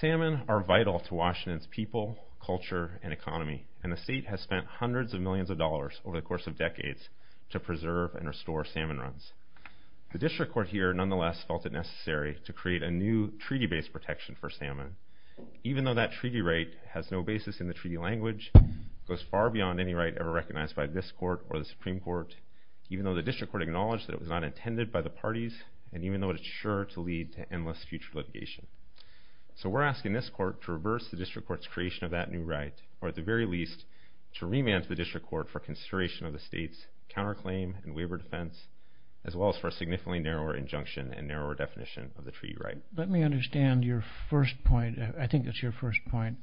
Salmon are vital to Washington's people, culture, and economy, and the state has spent hundreds of millions of dollars over the course of decades to preserve and restore salmon runs. The district court here, nonetheless, felt it necessary to create a new treaty-based protection for salmon, even though that treaty right is not yet in effect. This right has no basis in the treaty language, goes far beyond any right ever recognized by this court or the Supreme Court, even though the district court acknowledged that it was not intended by the parties, and even though it is sure to lead to endless future litigation. So we're asking this court to reverse the district court's creation of that new right, or at the very least, to remand to the district court for consideration of the state's counterclaim and waiver defense, as well as for a significantly narrower injunction and narrower definition of the treaty right. Let me understand your first point. I think it's your first point.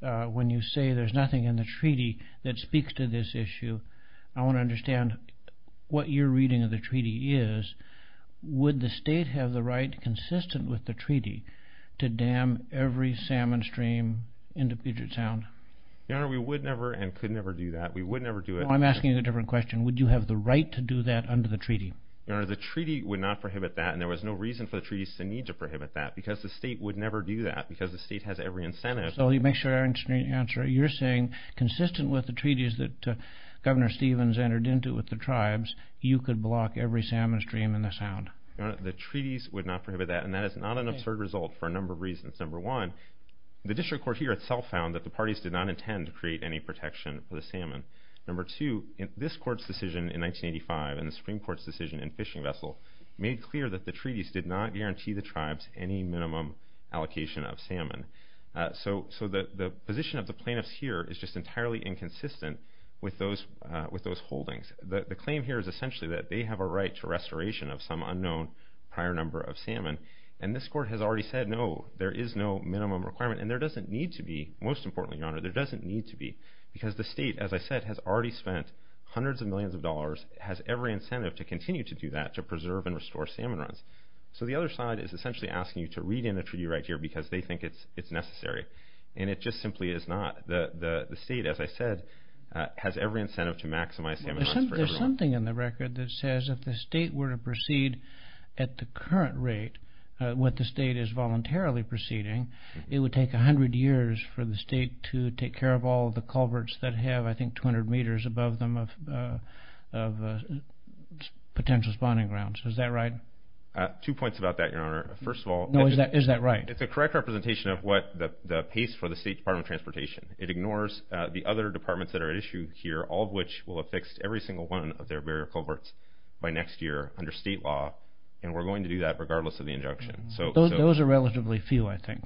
When you say there's nothing in the treaty that speaks to this issue, I want to understand what your reading of the treaty is. Would the state have the right, consistent with the treaty, to dam every salmon stream into Puget Sound? Your Honor, we would never and could never do that. We would never do it. I'm asking you a different question. Would you have the right to do that under the treaty? Your Honor, the treaty would not prohibit that, and there was no reason for the treaties to need to prohibit that, because the state would never do that, because the state has every incentive. So let me make sure I understand your answer. You're saying, consistent with the treaties that Governor Stevens entered into with the tribes, you could block every salmon stream into Puget Sound? Your Honor, the treaties would not prohibit that, and that is not an absurd result for a number of reasons. Number one, the district court here itself found that the parties did not intend to create any protection for the salmon. Number two, this court's decision in 1985 and the Supreme Court's decision in Fishing Vessel made clear that the treaties did not guarantee the tribes any minimum allocation of salmon. So the position of the plaintiffs here is just entirely inconsistent with those holdings. The claim here is essentially that they have a right to restoration of some unknown prior number of salmon, and this court has already said, no, there is no minimum requirement, and there doesn't need to be. Most importantly, Your Honor, there doesn't need to be, because the state, as I said, has already spent hundreds of millions of dollars, has every incentive to continue to do that, to preserve and restore salmon runs. So the other side is essentially asking you to read in a treaty right here because they think it's necessary, and it just simply is not. The state, as I said, has every incentive to maximize salmon runs for everyone. There's something in the record that says if the state were to proceed at the current rate, what the state is voluntarily proceeding, it would take 100 years for the state to take care of all the culverts that have, I think, 200 meters above them of potential spawning grounds. Is that right? Two points about that, Your Honor. First of all... No, is that right? It's a correct representation of what the pace for the State Department of Transportation. It ignores the other departments that are at issue here, all of which will have fixed every single one of their barrier culverts by next year under state law, and we're going to do that regardless of the injunction. Those are relatively few, I think.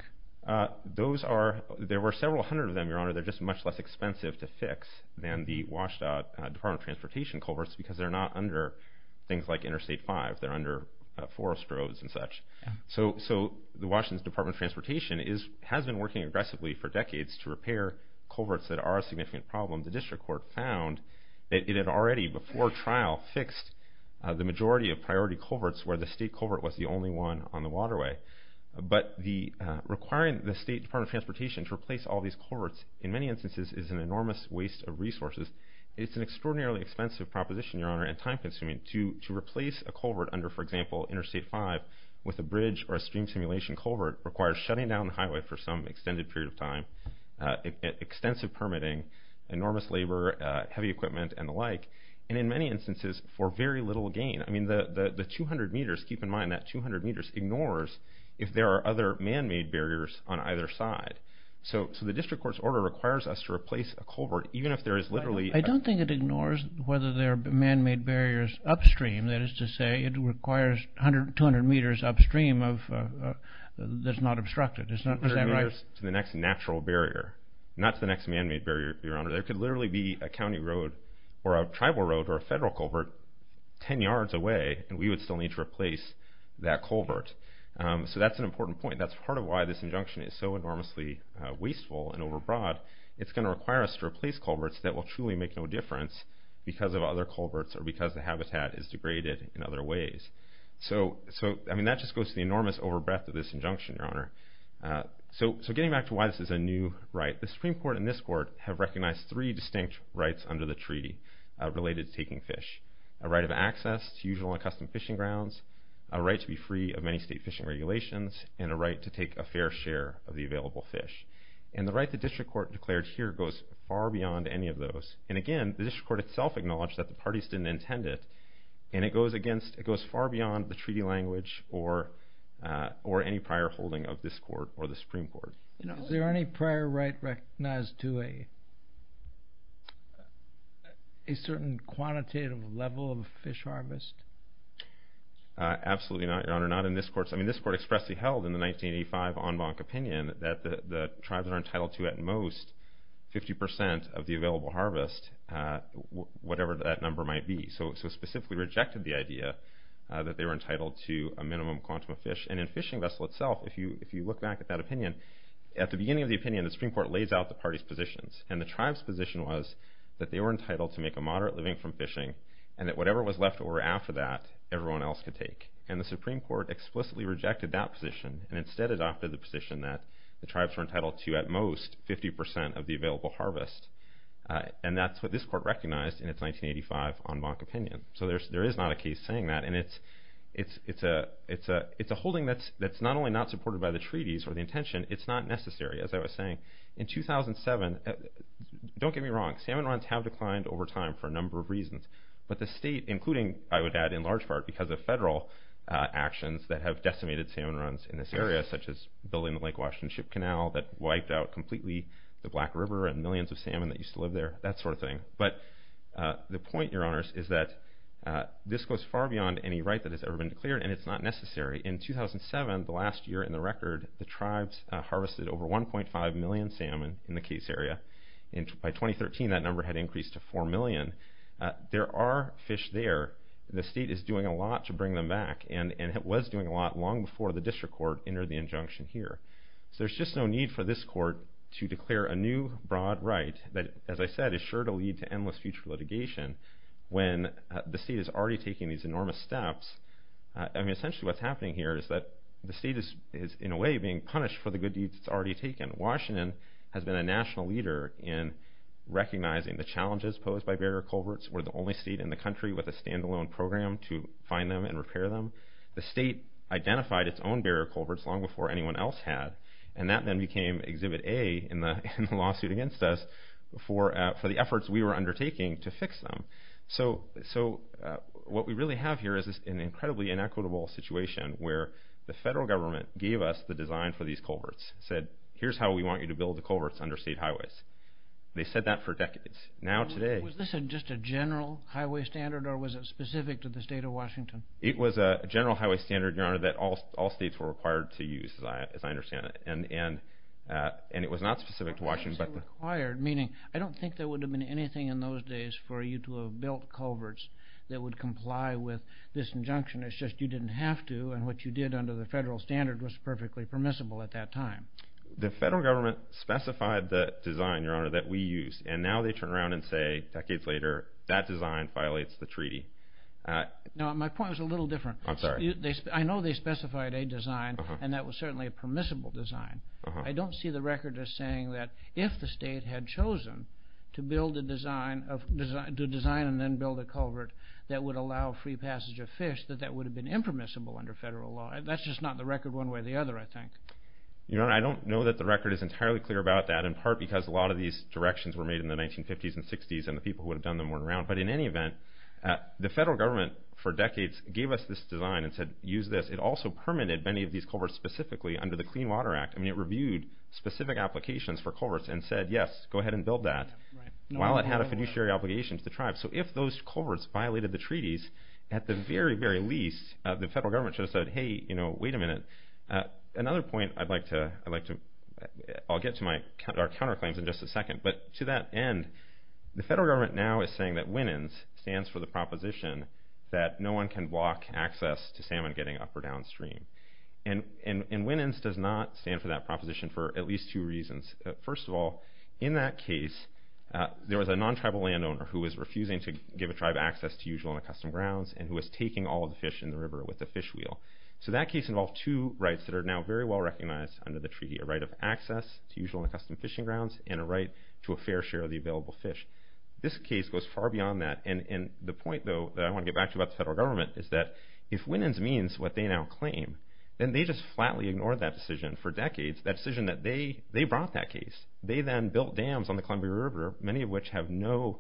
Those are... there were several hundred of them, Your Honor. They're just much less expensive to fix than the Washtenaw Department of Transportation culverts because they're not under things like Interstate 5. They're under forest roads and such. So the Washington Department of Transportation has been working aggressively for decades to repair culverts that are a significant problem. The district court found that it had already, before trial, fixed the majority of priority culverts where the state culvert was the only one on the waterway. But requiring the State Department of Transportation to replace all these culverts, in many instances, is an enormous waste of resources. It's an extraordinarily expensive proposition, Your Honor, and time-consuming. To replace a culvert under, for example, Interstate 5 with a bridge or a stream simulation culvert requires shutting down the highway for some extended period of time, extensive permitting, enormous labor, heavy equipment, and the like, and in many instances for very little gain. I mean, the 200 meters, keep in mind that 200 meters ignores if there are other man-made barriers on either side. So the district court's order requires us to replace a culvert even if there is literally... I don't think it ignores whether there are man-made barriers upstream. That is to say, it requires 200 meters upstream that's not obstructed. It's not, is that right? 200 meters to the next natural barrier, not to the next man-made barrier, Your Honor. There could literally be a county road or a tribal road or a federal culvert 10 yards away, and we would still need to replace that culvert. So that's an important point. That's part of why this injunction is so enormously wasteful and overbroad. It's going to require us to replace culverts that will truly make no difference because of other culverts or because the habitat is degraded in other ways. So, I mean, that just goes to the enormous overbreath of this injunction, Your Honor. So getting back to why this is a new right, the Supreme Court and this Court have recognized three distinct rights under the treaty related to taking fish. A right of access to usual and custom fishing grounds, a right to be free of many state fishing regulations, and a right to take a fair share of the available fish. And the right the District Court declared here goes far beyond any of those. And again, the District Court itself acknowledged that the parties didn't intend it, and it goes against, it goes far beyond the treaty language or any prior holding of this Court or the Supreme Court. Is there any prior right recognized to a certain quantitative level of fish harvest? Absolutely not, Your Honor. Not in this Court. I mean, this Court expressly held in the 1985 en banc opinion that the tribes that are entitled to at most 50% of the available harvest, whatever that number might be. So it specifically rejected the idea that they were entitled to a minimum quantum of fish. And in Fishing Vessel itself, if you look back at that opinion, at the beginning of the opinion, the Supreme Court lays out the parties' positions. And the tribes' position was that they were entitled to make a moderate living from fishing and that whatever was left over after that, everyone else could take. And the Supreme Court explicitly rejected that position and instead adopted the position that the tribes were entitled to at most 50% of the available harvest. And that's what this Court recognized in its 1985 en banc opinion. So there is not a case saying that. And it's a holding that's not only not supported by the treaties or the intention, it's not necessary, as I was saying. In 2007, don't get me wrong, salmon runs have declined over time for a number of reasons. But the state, including, I would add, in large part because of federal actions that have decimated salmon runs in this area, such as building the Lake Washington Ship Canal that wiped out completely the Black River and millions of salmon that used to live there, that sort of thing. But the point, Your Honors, is that this goes far beyond any right that has ever been declared and it's not necessary. In 2007, the last year in the record, the tribes harvested over 1.5 million salmon in the case area. By 2013, that number had increased to 4 million. There are fish there. The state is doing a lot to bring them back. And it was doing a lot long before the district court entered the injunction here. So there's just no need for this court to declare a new broad right that, as I said, is sure to lead to endless future litigation when the state is already taking these enormous steps. I mean, essentially what's happening here is that the state is, in a way, being punished for the good deeds it's already taken. Washington has been a national leader in recognizing the challenges posed by barrier culverts. We're the only state in the country with a stand-alone program to find them and repair them. The state identified its own barrier culverts long before anyone else had, and that then became Exhibit A in the lawsuit against us for the efforts we were undertaking to fix them. So what we really have here is an incredibly inequitable situation where the federal government gave us the design for these culverts, said, here's how we want you to build the culverts under state highways. They said that for decades. Now today... Was this just a general highway standard or was it specific to the state of Washington? It was a general highway standard, Your Honor, that all states were required to use, as I understand it. And it was not specific to Washington. Required, meaning I don't think there would have been anything in those days for you to have built culverts that would comply with this injunction. It's just you didn't have to, and what you did under the federal standard was perfectly permissible at that time. The federal government specified the design, Your Honor, that we used, and now they turn around and say, decades later, that design violates the treaty. No, my point was a little different. I'm sorry. I know they specified a design, and that was certainly a permissible design. I don't see the record as saying that if the state had chosen to build a design and then build a culvert that would allow free passage of fish, that that would have been impermissible under federal law. That's just not the record one way or the other, I think. Your Honor, I don't know that the record is entirely clear about that, in part because a lot of these directions were made in the 1950s and 60s, and the people who would have done them weren't around. But in any event, the federal government for decades gave us this design and said, use this. It also permitted many of these culverts specifically under the Clean Water Act. I mean, it reviewed specific applications for culverts and said, yes, go ahead and build that, while it had a fiduciary obligation to the tribe. So if those culverts violated the treaties, at the very, very least, the federal government should have said, hey, wait a minute. Another point I'd like to, I'll get to our counterclaims in just a second, but to that end, the federal government now is saying that WNNS stands for the proposition that no one can block access to salmon getting up or downstream. And WNNS does not stand for that proposition for at least two reasons. First of all, in that case, there was a non-tribal landowner who was refusing to give a tribe access to usual and accustomed grounds and who was taking all of the fish in the river with a fish wheel. So that case involved two rights that are now very well recognized under the treaty, a right of access to usual and accustomed fishing grounds and a right to a fair share of the available fish. This case goes far beyond that. And the point, though, that I want to get back to about the federal government is that if WNNS means what they now claim, then they just flatly ignored that decision for decades, that decision that they brought that case. They then built dams on the Columbia River, many of which have no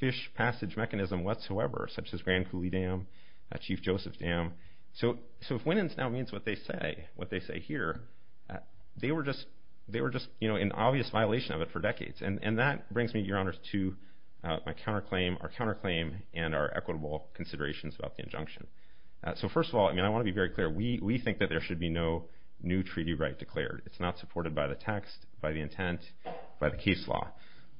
fish passage mechanism whatsoever, such as Grand Coulee Dam, Chief Joseph Dam. So if WNNS now means what they say here, they were just in obvious violation of it for decades. And that brings me, Your Honors, to our counterclaim and our equitable considerations about the injunction. So first of all, I want to be very clear. We think that there should be no new treaty right declared. It's not supported by the text, by the intent, by the case law.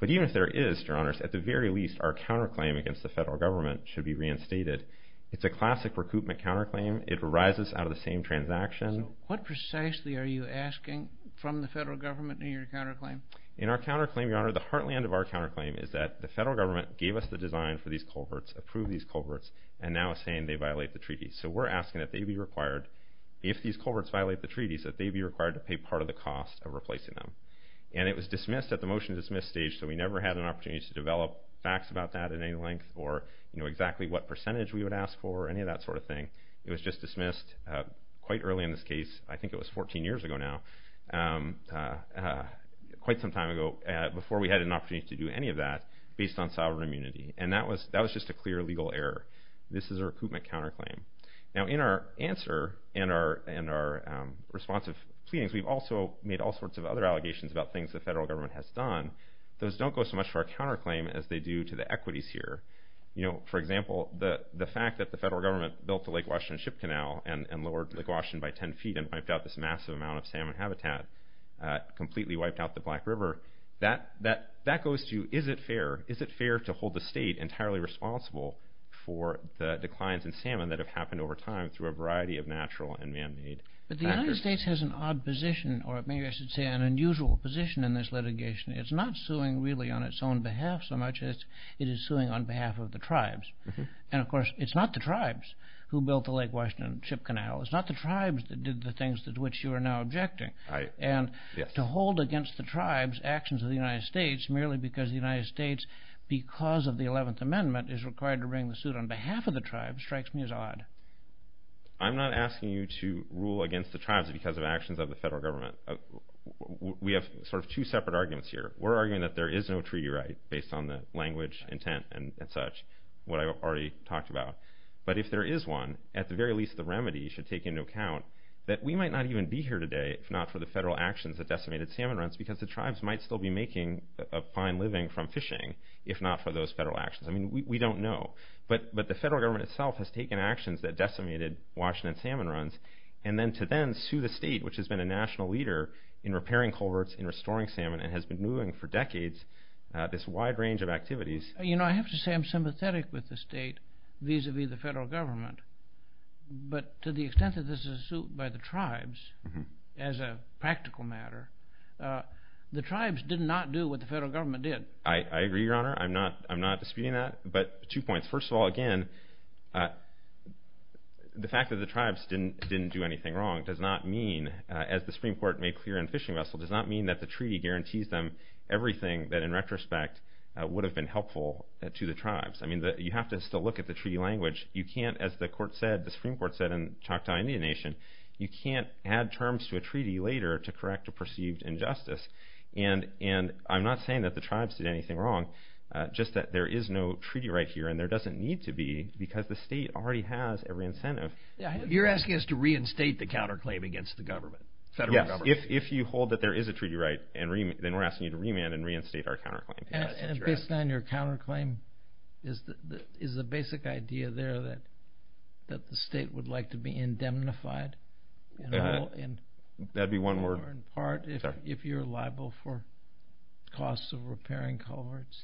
But even if there is, Your Honors, at the very least, our counterclaim against the federal government should be reinstated. It's a classic recoupment counterclaim. It arises out of the same transaction. So what precisely are you asking from the federal government in your counterclaim? In our counterclaim, Your Honor, the heartland of our counterclaim is that the federal government gave us the design for these culverts, approved these culverts, and now is saying they violate the treaty. So we're asking that they be required, if these culverts violate the treaty, that they be required to pay part of the cost of replacing them. And it was dismissed at the motion to dismiss stage, so we never had an opportunity to develop facts about that at any length or exactly what percentage we would ask for or any of that sort of thing. It was just dismissed quite early in this case. I think it was 14 years ago now, quite some time ago, before we had an opportunity to do any of that based on sovereign immunity. And that was just a clear legal error. This is a recoupment counterclaim. Now, in our answer and our responsive pleadings, we've also made all sorts of other allegations about things the federal government has done. Those don't go so much to our counterclaim as they do to the equities here. For example, the fact that the federal government built the Lake Washington Ship Canal and lowered Lake Washington by 10 feet and wiped out this massive amount of salmon habitat, completely wiped out the Black River, that goes to, is it fair? Is it fair to hold the state entirely responsible for the declines in salmon that have happened over time through a variety of natural and man-made factors? But the United States has an odd position, or maybe I should say an unusual position in this litigation. It's not suing really on its own behalf so much as it is suing on behalf of the tribes. And, of course, it's not the tribes who built the Lake Washington Ship Canal. It's not the tribes that did the things to which you are now objecting. And to hold against the tribes actions of the United States merely because the United States, because of the 11th Amendment, is required to bring the suit on behalf of the tribes strikes me as odd. I'm not asking you to rule against the tribes because of actions of the federal government. We have sort of two separate arguments here. We're arguing that there is no treaty right based on the language, intent, and such, what I already talked about. But if there is one, at the very least the remedy should take into account that we might not even be here today if not for the federal actions that decimated salmon runs because the tribes might still be making a fine living from fishing if not for those federal actions. I mean, we don't know. But the federal government itself has taken actions that decimated Washington salmon runs and then to then sue the state, which has been a national leader in repairing culverts, in restoring salmon, and has been doing for decades this wide range of activities. You know, I have to say I'm sympathetic with the state vis-à-vis the federal government. But to the extent that this is a suit by the tribes as a practical matter, the tribes did not do what the federal government did. I agree, Your Honor. I'm not disputing that. But two points. First of all, again, the fact that the tribes didn't do anything wrong does not mean, as the Supreme Court made clear in Fishing Vessel, does not mean that the treaty guarantees them everything that in retrospect would have been helpful to the tribes. I mean, you have to still look at the treaty language. You can't, as the Supreme Court said in Choctaw Indian Nation, you can't add terms to a treaty later to correct a perceived injustice. And I'm not saying that the tribes did anything wrong, just that there is no treaty right here, and there doesn't need to be, because the state already has every incentive. You're asking us to reinstate the counterclaim against the government, the federal government. Yes, if you hold that there is a treaty right, then we're asking you to remand and reinstate our counterclaim. And based on your counterclaim, is the basic idea there that the state would like to be indemnified in all or in part if you're liable for costs of repairing culverts?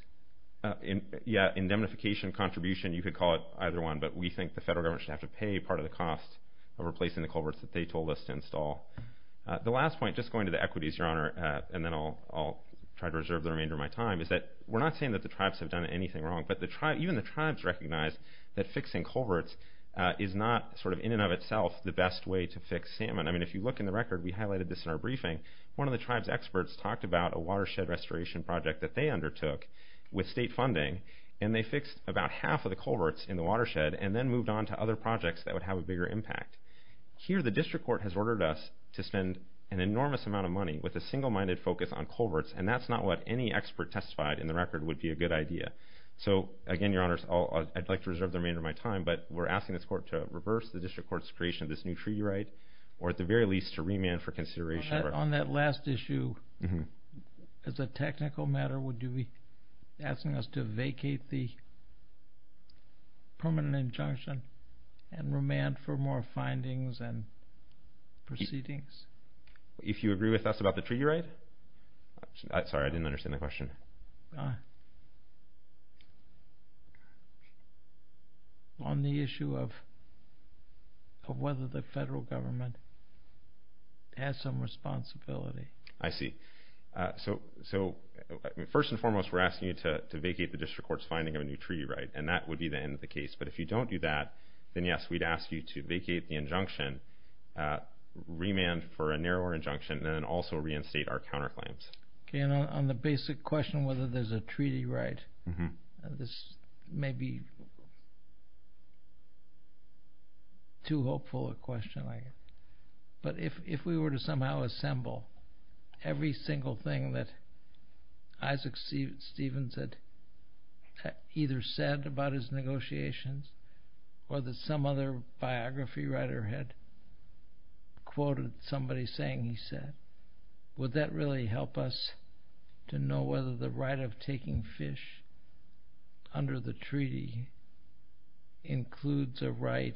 Yeah, indemnification contribution, you could call it either one, but we think the federal government should have to pay part of the cost of replacing the culverts that they told us to install. The last point, just going to the equities, Your Honor, and then I'll try to reserve the remainder of my time, is that we're not saying that the tribes have done anything wrong, but even the tribes recognize that fixing culverts is not sort of in and of itself the best way to fix salmon. I mean, if you look in the record, we highlighted this in our briefing, one of the tribe's experts talked about a watershed restoration project that they undertook with state funding, and they fixed about half of the culverts in the watershed and then moved on to other projects that would have a bigger impact. Here the district court has ordered us to spend an enormous amount of money with a single-minded focus on culverts, and that's not what any expert testified in the record would be a good idea. So again, Your Honor, I'd like to reserve the remainder of my time, but we're asking this court to reverse the district court's creation of this new treaty right, or at the very least to remand for consideration. On that last issue, as a technical matter, would you be asking us to vacate the permanent injunction and remand for more findings and proceedings? If you agree with us about the treaty right? Sorry, I didn't understand the question. On the issue of whether the federal government has some responsibility. I see. So first and foremost, we're asking you to vacate the district court's finding of a new treaty right, and that would be the end of the case. But if you don't do that, then yes, we'd ask you to vacate the injunction, remand for a narrower injunction, and then also reinstate our counterclaims. Okay. And on the basic question whether there's a treaty right, this may be too hopeful a question, I guess. But if we were to somehow assemble every single thing that Isaac Stevens had either said about his negotiations or that some other biography writer had quoted somebody saying he said, would that really help us to know whether the right of taking fish under the treaty includes a right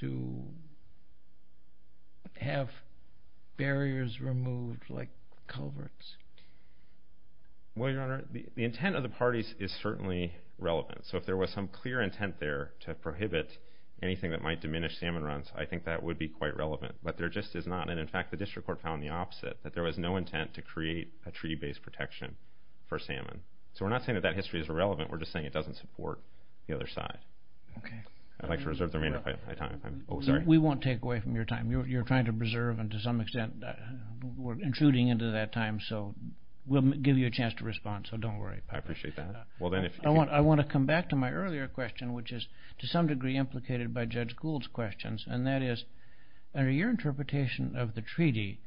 to have barriers removed like culverts? Well, Your Honor, the intent of the parties is certainly relevant. So if there was some clear intent there to prohibit anything that might diminish salmon runs, I think that would be quite relevant. But there just is not. And in fact, the district court found the opposite, that there was no intent to create a treaty-based protection for salmon. So we're not saying that that history is irrelevant. We're just saying it doesn't support the other side. Okay. I'd like to reserve the remainder of my time. We won't take away from your time. You're trying to preserve and to some extent we're intruding into that time, so we'll give you a chance to respond, so don't worry. I appreciate that. I want to come back to my earlier question, which is to some degree implicated by Judge Gould's questions, and that is under your interpretation of the treaty,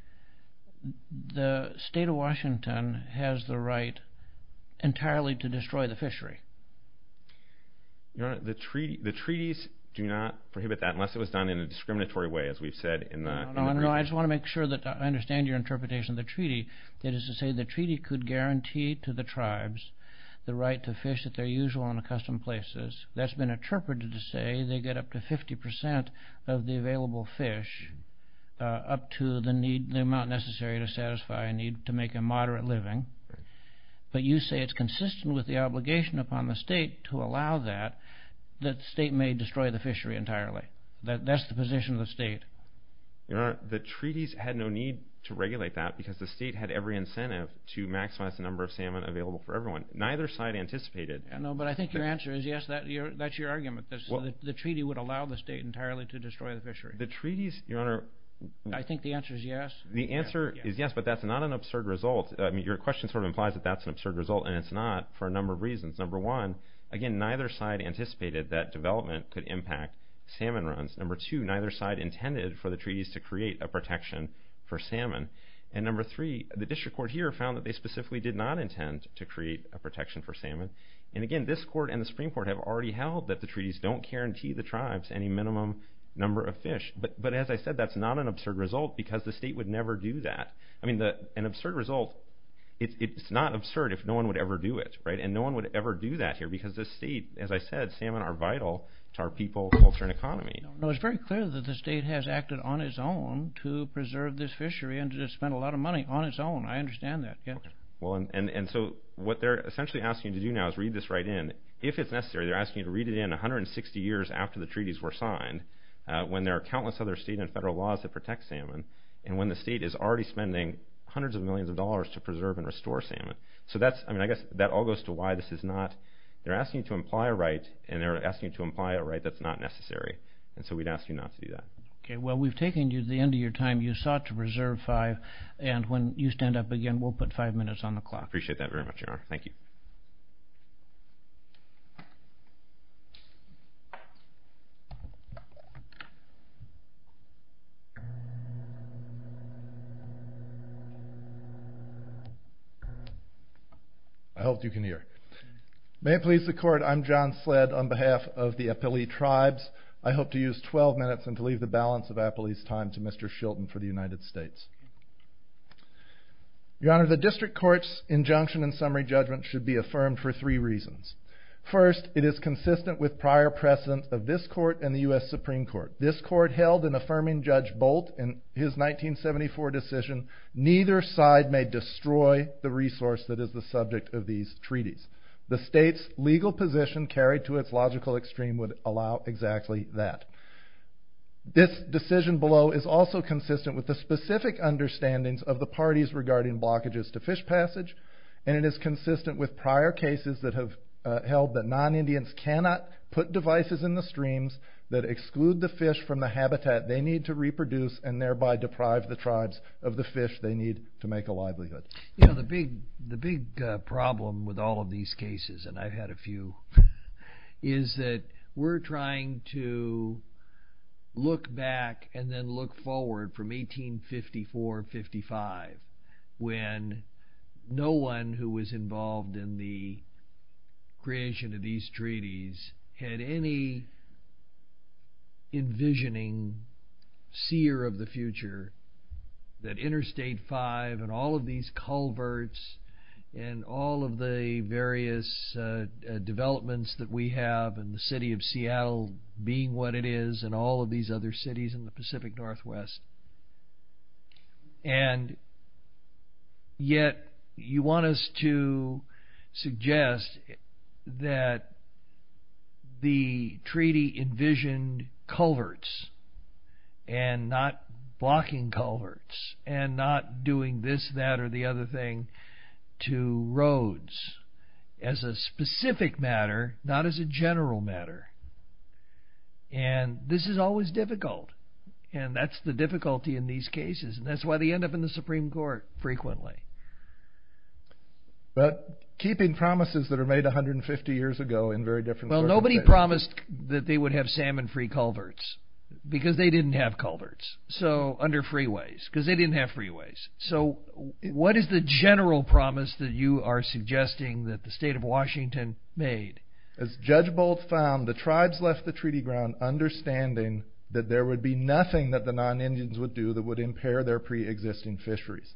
the state of Washington has the right entirely to destroy the fishery. Your Honor, the treaties do not prohibit that unless it was done in a discriminatory way, as we've said in the brief. No, I just want to make sure that I understand your interpretation of the treaty. That is to say the treaty could guarantee to the tribes the right to fish at their usual and accustomed places. That's been interpreted to say they get up to 50% of the available fish up to the amount necessary to satisfy a need to make a moderate living. But you say it's consistent with the obligation upon the state to allow that that the state may destroy the fishery entirely. That's the position of the state. Your Honor, the treaties had no need to regulate that because the state had every incentive to maximize the number of salmon available for everyone. Neither side anticipated. No, but I think your answer is yes. That's your argument. The treaty would allow the state entirely to destroy the fishery. The treaties, Your Honor... I think the answer is yes. The answer is yes, but that's not an absurd result. Your question sort of implies that that's an absurd result, and it's not for a number of reasons. Number one, again, neither side anticipated that development could impact salmon runs. Number two, neither side intended for the treaties to create a protection for salmon. And number three, the district court here found that they specifically did not intend to create a protection for salmon. And again, this court and the Supreme Court have already held that the treaties don't guarantee the tribes any minimum number of fish. But as I said, that's not an absurd result because the state would never do that. I mean, an absurd result, it's not absurd if no one would ever do it, right? And no one would ever do that here because the state, as I said, salmon are vital to our people, culture, and economy. No, it's very clear that the state has acted on its own to preserve this fishery and to spend a lot of money on its own. I understand that. Well, and so what they're essentially asking you to do now is read this right in. If it's necessary, they're asking you to read it in 160 years after the treaties were signed, when there are countless other state and federal laws that protect salmon, and when the state is already spending hundreds of millions of dollars to preserve and restore salmon. So that's, I mean, I guess that all goes to why this is not, they're asking you to imply a right, and they're asking you to imply a right that's not necessary. And so we'd ask you not to do that. Okay, well, we've taken you to the end of your time. You sought to preserve five, and when you stand up again, we'll put five minutes on the clock. I appreciate that very much, Your Honor. Thank you. I hope you can hear. May it please the Court, I'm John Sledd on behalf of the Appalee tribes. I hope to use 12 minutes and to leave the balance of Appalee's time to Mr. Shilton for the United States. Your Honor, the district court's injunction and summary judgment should be affirmed for three reasons. First, it is consistent with prior precedent of this court and the U.S. Supreme Court. This court held in affirming Judge Bolt in his 1974 decision, neither side may destroy the resource that is the subject of these treaties. The state's legal position carried to its logical extreme would allow exactly that. This decision below is also consistent with the specific understandings of the parties regarding blockages to fish passage, and it is consistent with prior cases that have held that non-Indians cannot put devices in the streams that exclude the fish from the habitat they need to reproduce and thereby deprive the tribes of the fish they need to make a livelihood. The big problem with all of these cases, and I've had a few, is that we're trying to look back and then look forward from 1854-55 when no one who was involved in the creation of these treaties had any envisioning seer of the future that Interstate 5 and all of these culverts and all of the various developments that we have and the city of Seattle being what it is and all of these other cities in the Pacific Northwest. And yet you want us to suggest that the treaty envisioned culverts and not blocking culverts and not doing this, that, or the other thing to roads as a specific matter, not as a general matter. And this is always difficult. And that's the difficulty in these cases. And that's why they end up in the Supreme Court frequently. But keeping promises that are made 150 years ago in very different circumstances. Nobody promised that they would have salmon-free culverts because they didn't have culverts under freeways because they didn't have freeways. So what is the general promise that you are suggesting that the state of Washington made? As Judge Bolt found, the tribes left the treaty ground understanding that there would be nothing that the non-Indians would do that would impair their pre-existing fisheries.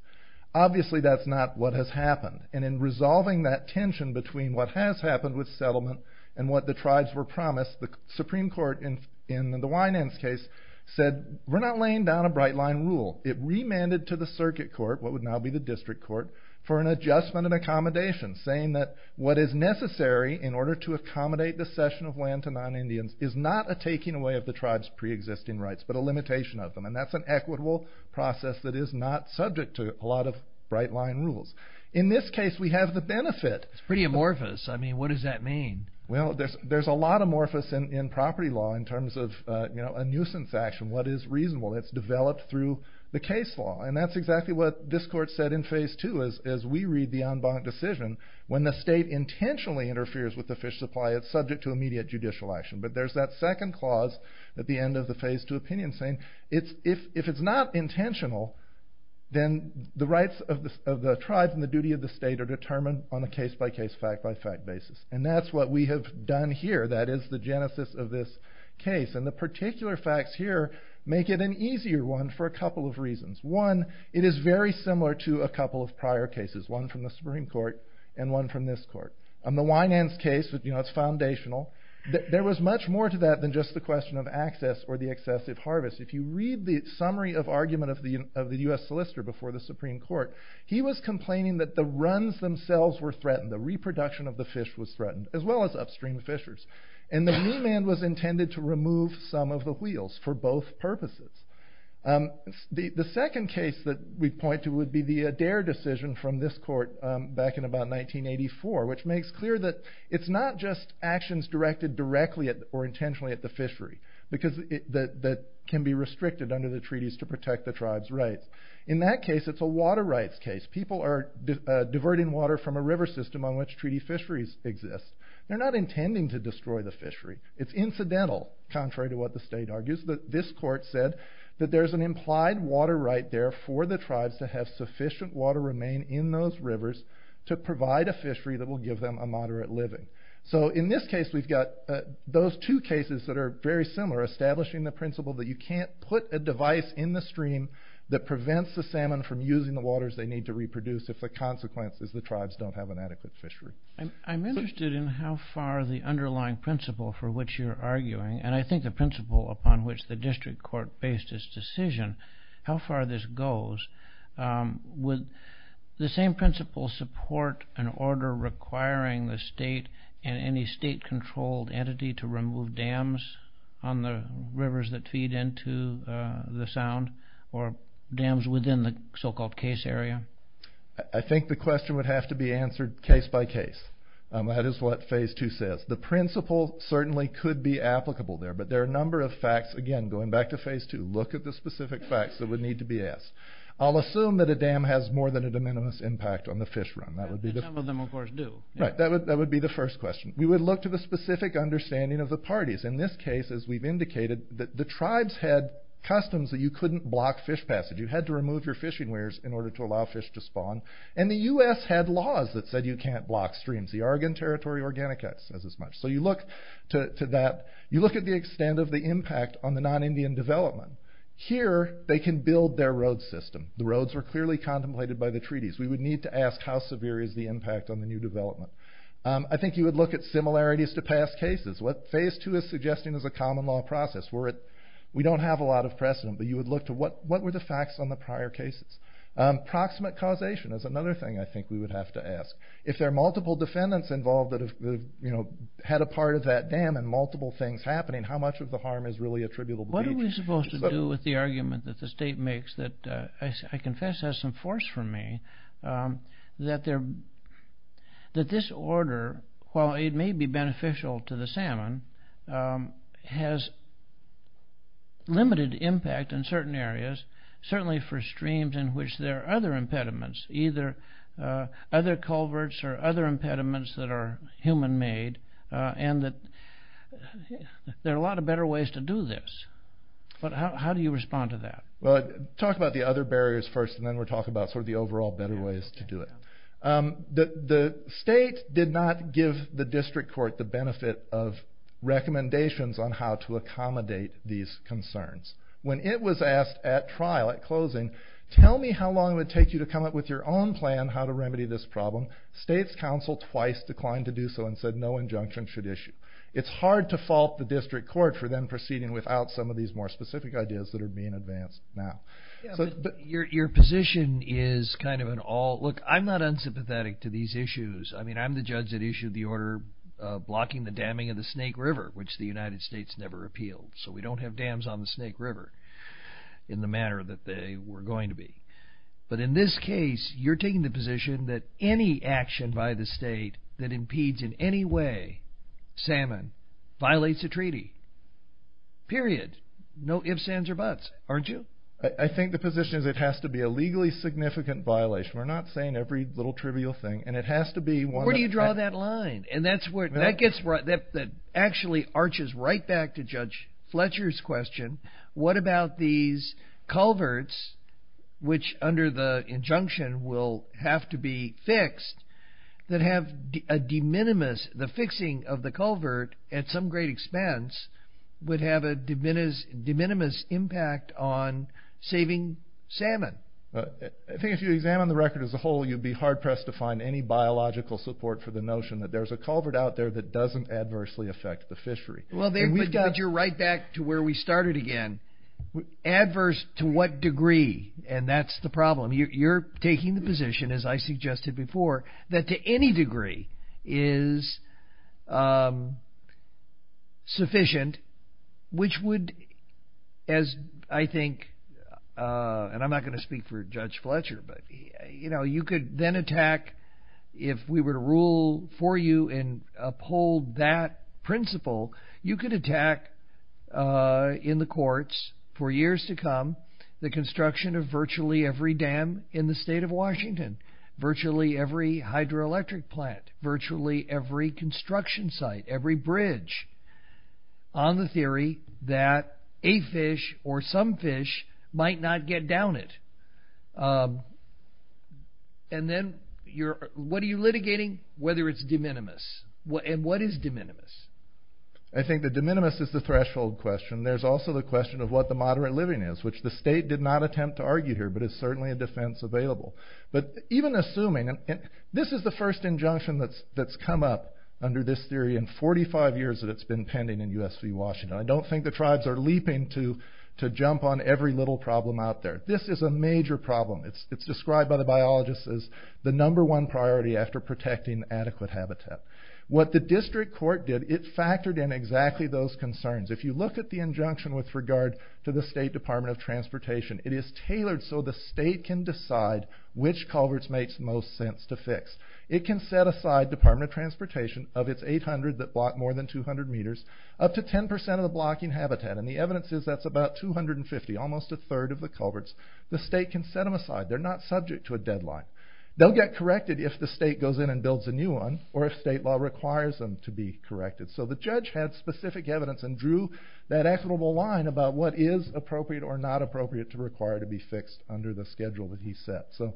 Obviously that's not what has happened. And in resolving that tension between what has happened with settlement and what the tribes were promised, the Supreme Court in the Wynand's case said, we're not laying down a bright-line rule. It remanded to the circuit court, what would now be the district court, for an adjustment and accommodation, saying that what is necessary in order to accommodate the cession of land to non-Indians is not a taking away of the tribe's pre-existing rights, but a limitation of them. And that's an equitable process that is not subject to a lot of bright-line rules. In this case we have the benefit. It's pretty amorphous. I mean, what does that mean? Well, there's a lot of amorphous in property law in terms of a nuisance action, what is reasonable. It's developed through the case law. And that's exactly what this court said in Phase 2, as we read the en banc decision, when the state intentionally interferes with the fish supply, it's subject to immediate judicial action. But there's that second clause at the end of the Phase 2 opinion, saying if it's not intentional, then the rights of the tribes and the duty of the state are determined on a case-by-case, fact-by-fact basis. And that's what we have done here. That is the genesis of this case. And the particular facts here make it an easier one for a couple of reasons. One, it is very similar to a couple of prior cases, one from the Supreme Court and one from this court. On the Winans case, it's foundational. There was much more to that than just the question of access or the excessive harvest. If you read the summary of argument of the U.S. Solicitor before the Supreme Court, he was complaining that the runs themselves were threatened, the reproduction of the fish was threatened, as well as upstream fishers. And the remand was intended to remove some of the wheels for both purposes. The second case that we point to would be the Adair decision from this court back in about 1984, which makes clear that it's not just actions directed directly or intentionally at the fishery, that can be restricted under the treaties to protect the tribe's rights. In that case, it's a water rights case. People are diverting water from a river system on which treaty fisheries exist. They're not intending to destroy the fishery. It's incidental, contrary to what the state argues. This court said that there's an implied water right there for the tribes to have sufficient water remain in those rivers to provide a fishery that will give them a moderate living. So in this case, we've got those two cases that are very similar, establishing the principle that you can't put a device in the stream that prevents the salmon from using the waters they need to reproduce if the consequence is the tribes don't have an adequate fishery. I'm interested in how far the underlying principle for which you're arguing, and I think the principle upon which the district court based its decision, how far this goes. Would the same principle support an order requiring the state and any state-controlled entity to remove dams on the rivers that feed into the Sound, or dams within the so-called case area? I think the question would have to be answered case by case. That is what Phase 2 says. The principle certainly could be applicable there, but there are a number of facts. Again, going back to Phase 2, look at the specific facts that would need to be asked. I'll assume that a dam has more than a de minimis impact on the fish run. Some of them, of course, do. Right, that would be the first question. We would look to the specific understanding of the parties. In this case, as we've indicated, the tribes had customs that you couldn't block fish passage. You had to remove your fishing weirs in order to allow fish to spawn. And the U.S. had laws that said you can't block streams. The Oregon Territory Organic Act says as much. So you look to that. You look at the extent of the impact on the non-Indian development. Here, they can build their road system. The roads were clearly contemplated by the treaties. We would need to ask how severe is the impact on the new development. I think you would look at similarities to past cases. What Phase 2 is suggesting is a common law process. We don't have a lot of precedent, but you would look to what were the facts on the prior cases. Proximate causation is another thing I think we would have to ask. If there are multiple defendants involved that had a part of that dam and multiple things happening, how much of the harm is really attributable to each? What are we supposed to do with the argument that the state makes that I confess has some force for me, that this order, while it may be beneficial to the salmon, has limited impact in certain areas, certainly for streams in which there are other impediments, either other culverts or other impediments that are human-made, and that there are a lot of better ways to do this. How do you respond to that? Talk about the other barriers first, and then we'll talk about the overall better ways to do it. The state did not give the district court the benefit of recommendations on how to accommodate these concerns. When it was asked at trial, at closing, tell me how long it would take you to come up with your own plan how to remedy this problem, state's counsel twice declined to do so and said no injunction should issue. It's hard to fault the district court for then proceeding without some of these more specific ideas that are being advanced now. Your position is kind of an all... Look, I'm not unsympathetic to these issues. I mean, I'm the judge that issued the order blocking the damming of the Snake River, which the United States never appealed. So we don't have dams on the Snake River in the manner that they were going to be. But in this case, you're taking the position that any action by the state that impedes in any way salmon violates a treaty, period. No ifs, ands, or buts, aren't you? I think the position is it has to be a legally significant violation. We're not saying every little trivial thing, and it has to be one that... Where do you draw that line? And that actually arches right back to Judge Fletcher's question. What about these culverts, which under the injunction will have to be fixed, that have a de minimis, the fixing of the culvert at some great expense would have a de minimis impact on saving salmon? I think if you examine the record as a whole, you'd be hard-pressed to find any biological support for the notion that there's a culvert out there that doesn't adversely affect the fishery. But you're right back to where we started again. Adverse to what degree? And that's the problem. You're taking the position, as I suggested before, that to any degree is sufficient, which would, as I think, and I'm not going to speak for Judge Fletcher, but you could then attack, if we were to rule for you and uphold that principle, you could attack in the courts for years to come the construction of virtually every dam in the state of Washington, virtually every hydroelectric plant, virtually every construction site, every bridge, on the theory that a fish or some fish might not get down it. And then what are you litigating? Whether it's de minimis. And what is de minimis? I think the de minimis is the threshold question. There's also the question of what the moderate living is, which the state did not attempt to argue here, but it's certainly a defense available. But even assuming, and this is the first injunction that's come up under this theory in 45 years that it's been pending in U.S. v. Washington. I don't think the tribes are leaping to jump on every little problem out there. This is a major problem. It's described by the biologists as the number one priority after protecting adequate habitat. What the district court did, it factored in exactly those concerns. If you look at the injunction with regard to the State Department of Transportation, it is tailored so the state can decide which culverts makes the most sense to fix. It can set aside Department of Transportation of its 800 that block more than 200 meters, up to 10% of the blocking habitat. And the evidence is that's about 250, almost a third of the culverts. The state can set them aside. They're not subject to a deadline. They'll get corrected if the state goes in and builds a new one, or if state law requires them to be corrected. So the judge had specific evidence and drew that equitable line about what is appropriate or not appropriate to require to be fixed under the schedule that he set. So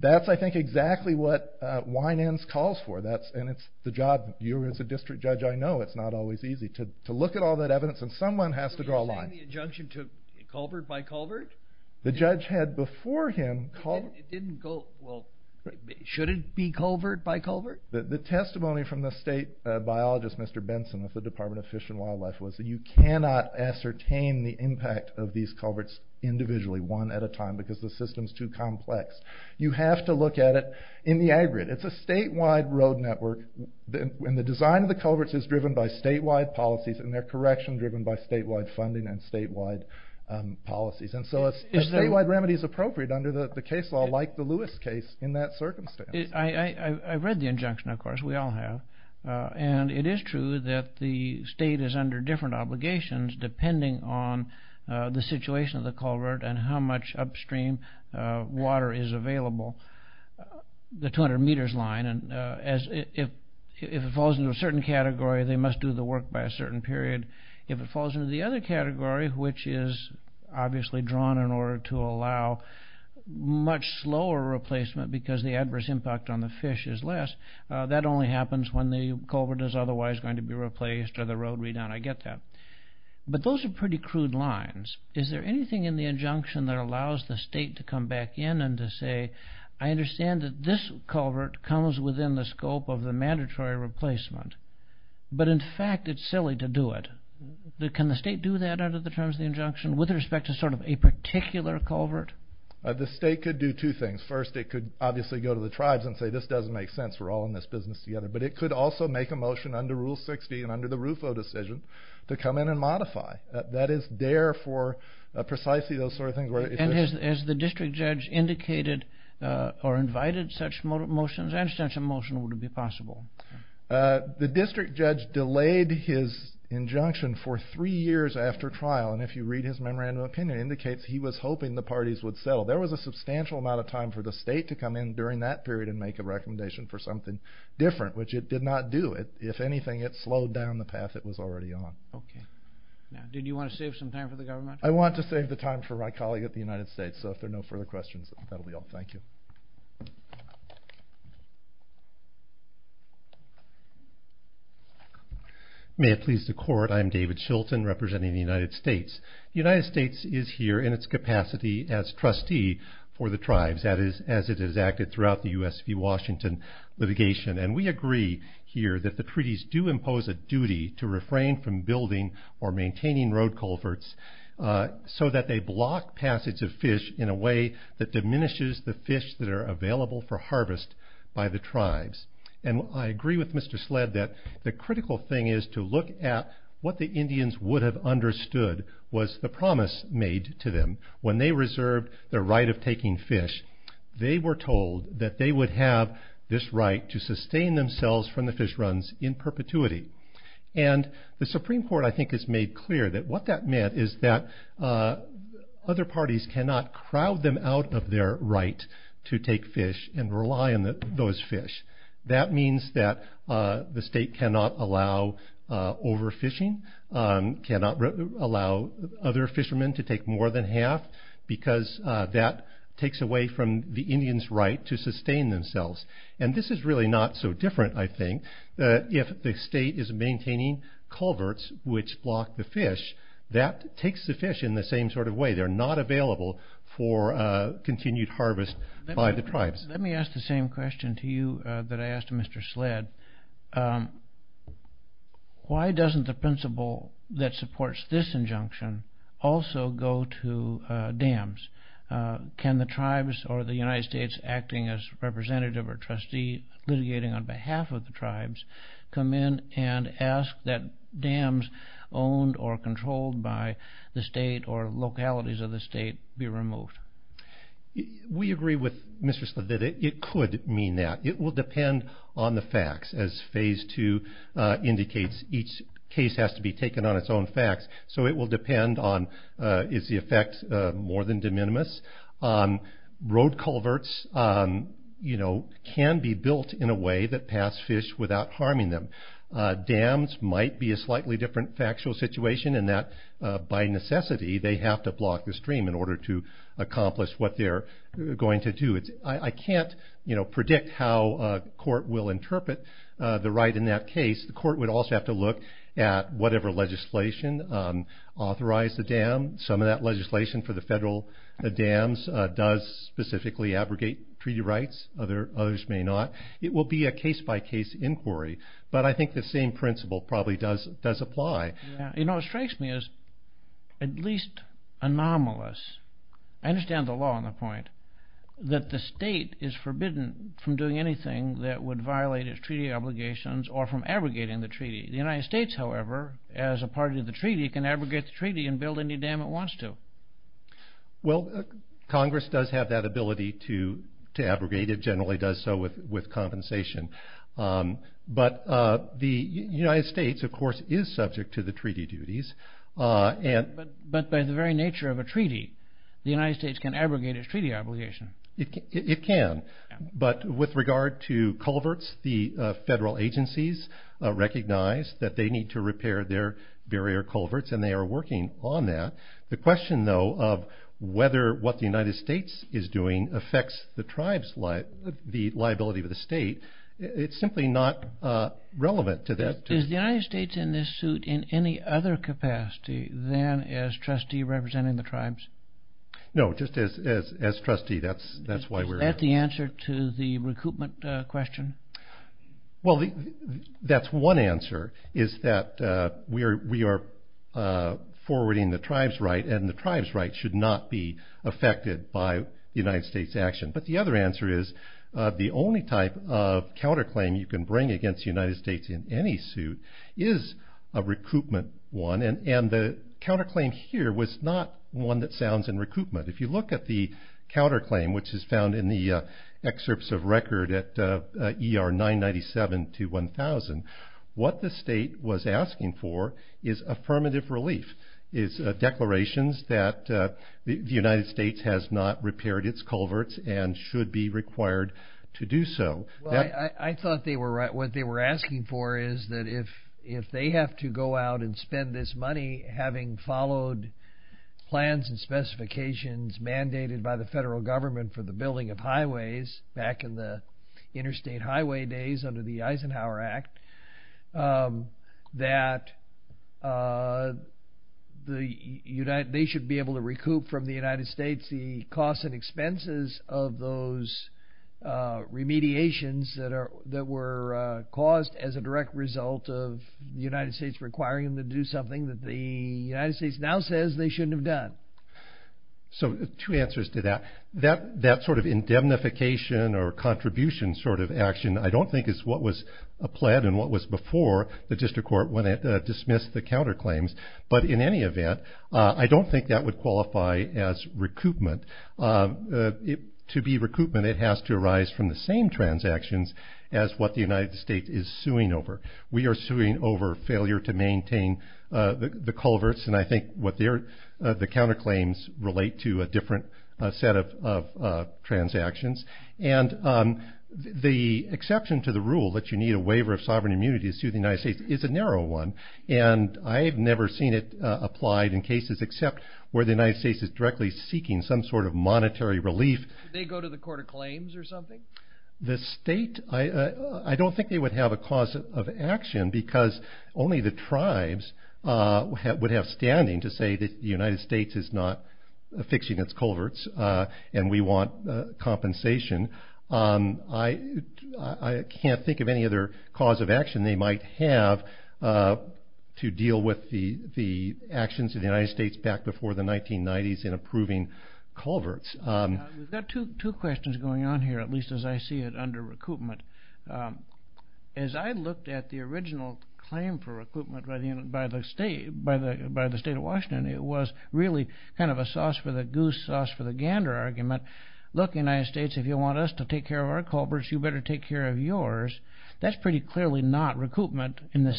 that's, I think, exactly what Weinenz calls for. And it's the job, you as a district judge, I know, it's not always easy to look at all that evidence and someone has to draw a line. Did he send the injunction to culvert by culvert? The judge had before him... It didn't go, well, should it be culvert by culvert? The testimony from the state biologist, Mr. Benson, of the Department of Fish and Wildlife was that you cannot ascertain the impact of these culverts individually, one at a time, because the system's too complex. You have to look at it in the aggregate. It's a statewide road network, and the design of the culverts is driven by statewide policies, and their correction driven by statewide funding and statewide policies. And so a statewide remedy is appropriate under the case law, like the Lewis case, in that circumstance. I read the injunction, of course, we all have, and it is true that the state is under different obligations depending on the situation of the culvert and how much upstream water is available. The 200 meters line, if it falls into a certain category, they must do the work by a certain period. If it falls into the other category, which is obviously drawn in order to allow much slower replacement because the adverse impact on the fish is less, that only happens when the culvert is otherwise going to be replaced or the road redone, I get that. But those are pretty crude lines. Is there anything in the injunction that allows the state to come back in and to say, I understand that this culvert comes within the scope of the mandatory replacement, but in fact it's silly to do it. Can the state do that under the terms of the injunction with respect to sort of a particular culvert? The state could do two things. First, it could obviously go to the tribes and say, this doesn't make sense. We're all in this business together. But it could also make a motion under Rule 60 and under the RUFO decision to come in and modify. That is there for precisely those sort of things. And has the district judge indicated or invited such motions and such a motion would it be possible? The district judge delayed his injunction for three years after trial, and if you read his memorandum of opinion, it indicates he was hoping the parties would settle. There was a substantial amount of time for the state to come in during that period and make a recommendation for something different, which it did not do. If anything, it slowed down the path it was already on. Okay. Now, did you want to save some time for the government? I want to save the time for my colleague at the United States, so if there are no further questions, that'll be all. Thank you. May it please the Court, I'm David Shilton representing the United States. The United States is here in its capacity as trustee for the tribes, as it has acted throughout the U.S. v. Washington litigation, and we agree here that the treaties do impose a duty to refrain from building or maintaining road culverts so that they block passage of fish in a way that diminishes the fish that are available for harvest by the tribes. And I agree with Mr. Sled that the critical thing is to look at what the Indians would have understood was the promise made to them when they reserved their right of taking fish. They were told that they would have this right to sustain themselves from the fish runs in perpetuity. And the Supreme Court, I think, has made clear that what that meant is that other parties cannot crowd them out of their right to take fish and rely on those fish. That means that the state cannot allow overfishing, cannot allow other fishermen to take more than half, because that takes away from the Indians' right to sustain themselves. And this is really not so different, I think, if the state is maintaining culverts which block the fish, that takes the fish in the same sort of way. They're not available for continued harvest by the tribes. Let me ask the same question to you that I asked Mr. Sled. Why doesn't the principle that supports this injunction also go to dams? Can the tribes or the United States acting as representative or trustee litigating on behalf of the tribes come in and ask that dams owned or controlled by the state or localities of the state be removed? We agree with Mr. Sled that it could mean that. It will depend on the facts. As Phase 2 indicates, each case has to be taken on its own facts, so it will depend on is the effect more than de minimis. Road culverts can be built in a way that pass fish without harming them. Dams might be a slightly different factual situation in that by necessity they have to block the stream in order to accomplish what they're going to do. I can't predict how a court will interpret the right in that case. The court would also have to look at whatever legislation authorized the dam. Some of that legislation for the federal dams does specifically abrogate treaty rights. Others may not. It will be a case-by-case inquiry, but I think the same principle probably does apply. It strikes me as at least anomalous. I understand the law on the point that the state is forbidden from doing anything that would violate its treaty obligations or from abrogating the treaty. The United States, however, as a party to the treaty, can abrogate the treaty and build any dam it wants to. Well, Congress does have that ability to abrogate. It generally does so with compensation. But the United States, of course, is subject to the treaty duties. But by the very nature of a treaty, the United States can abrogate its treaty obligation. It can. But with regard to culverts, the federal agencies recognize that they need to repair their barrier culverts, and they are working on that. The question, though, of whether what the United States is doing affects the liability of the state, it's simply not relevant to that. Is the United States in this suit in any other capacity than as trustee representing the tribes? No, just as trustee. That's why we're here. Is that the answer to the recoupment question? Well, that's one answer, is that we are forwarding the tribes' right, and the tribes' right should not be affected by the United States' action. But the other answer is the only type of counterclaim you can bring against the United States in any suit is a recoupment one. And the counterclaim here was not one that sounds in recoupment. If you look at the counterclaim, which is found in the excerpts of record at ER 997 to 1000, what the state was asking for is affirmative relief, is declarations that the United States has not repaired its culverts and should be required to do so. Well, I thought what they were asking for is that if they have to go out and spend this money, having followed plans and specifications mandated by the federal government for the building of highways, back in the interstate highway days under the Eisenhower Act, that they should be able to recoup from the United States the costs and expenses of those remediations that were caused as a direct result of the United States requiring them to do something that the United States now says they shouldn't have done. So two answers to that. That sort of indemnification or contribution sort of action I don't think is what was applied and what was before the district court when it dismissed the counterclaims. But in any event, I don't think that would qualify as recoupment. To be recoupment, it has to arise from the same transactions as what the United States is suing over. We are suing over failure to maintain the culverts and I think what the counterclaims relate to a different set of transactions. And the exception to the rule that you need a waiver of sovereign immunity to sue the United States is a narrow one. And I've never seen it applied in cases except where the United States is directly seeking some sort of monetary relief. Did they go to the court of claims or something? The state, I don't think they would have a cause of action because only the tribes would have standing to say that the United States is not fixing its culverts and we want compensation. I can't think of any other cause of action they might have to deal with the actions of the United States back before the 1990s in approving culverts. We've got two questions going on here, at least as I see it, under recoupment. As I looked at the original claim for recoupment by the state of Washington, it was really kind of a sauce for the goose, sauce for the gander argument. Look, United States, if you want us to take care of our culverts, you better take care of yours. That's pretty clearly not recoupment in the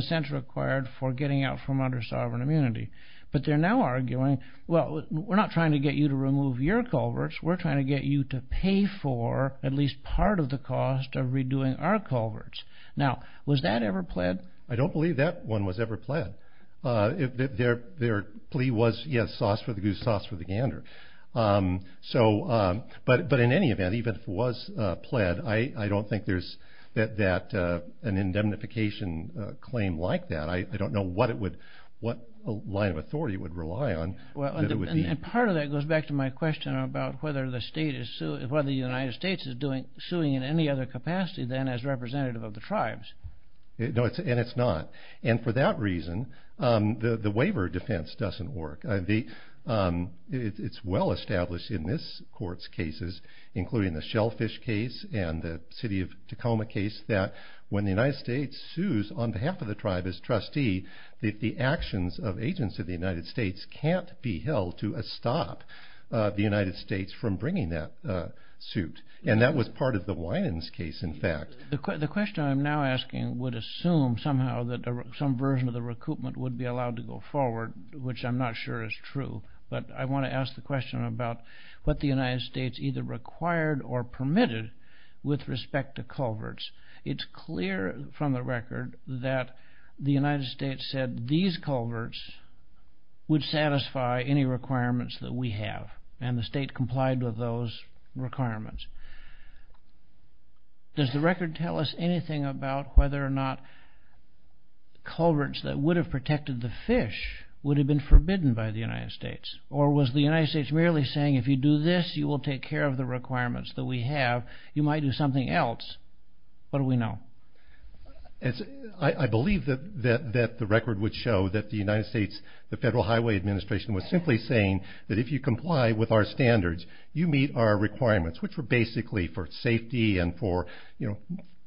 sense required for getting out from under sovereign immunity. But they're now arguing, well, we're not trying to get you to remove your culverts. We're trying to get you to pay for at least part of the cost of redoing our culverts. Now, was that ever pled? I don't believe that one was ever pled. Their plea was, yes, sauce for the goose, sauce for the gander. But in any event, even if it was pled, I don't think there's an indemnification claim like that. I don't know what line of authority it would rely on. And part of that goes back to my question about whether the United States is suing in any other capacity than as representative of the tribes. No, and it's not. And for that reason, the waiver defense doesn't work. It's well established in this court's cases, including the shellfish case and the city of Tacoma case, that when the United States sues on behalf of the tribe as trustee, that the actions of agents of the United States can't be held to stop the United States from bringing that suit. And that was part of the Winans case, in fact. The question I'm now asking would assume somehow that some version of the recoupment would be allowed to go forward, which I'm not sure is true. But I want to ask the question about what the United States either required or permitted with respect to culverts. It's clear from the record that the United States said these culverts would satisfy any requirements that we have, and the state complied with those requirements. Does the record tell us anything about whether or not culverts that would have protected the fish would have been forbidden by the United States? Or was the United States merely saying, if you do this, you will take care of the requirements that we have. You might do something else. What do we know? I believe that the record would show that the United States, the Federal Highway Administration, was simply saying that if you comply with our standards, you meet our requirements, which were basically for safety and for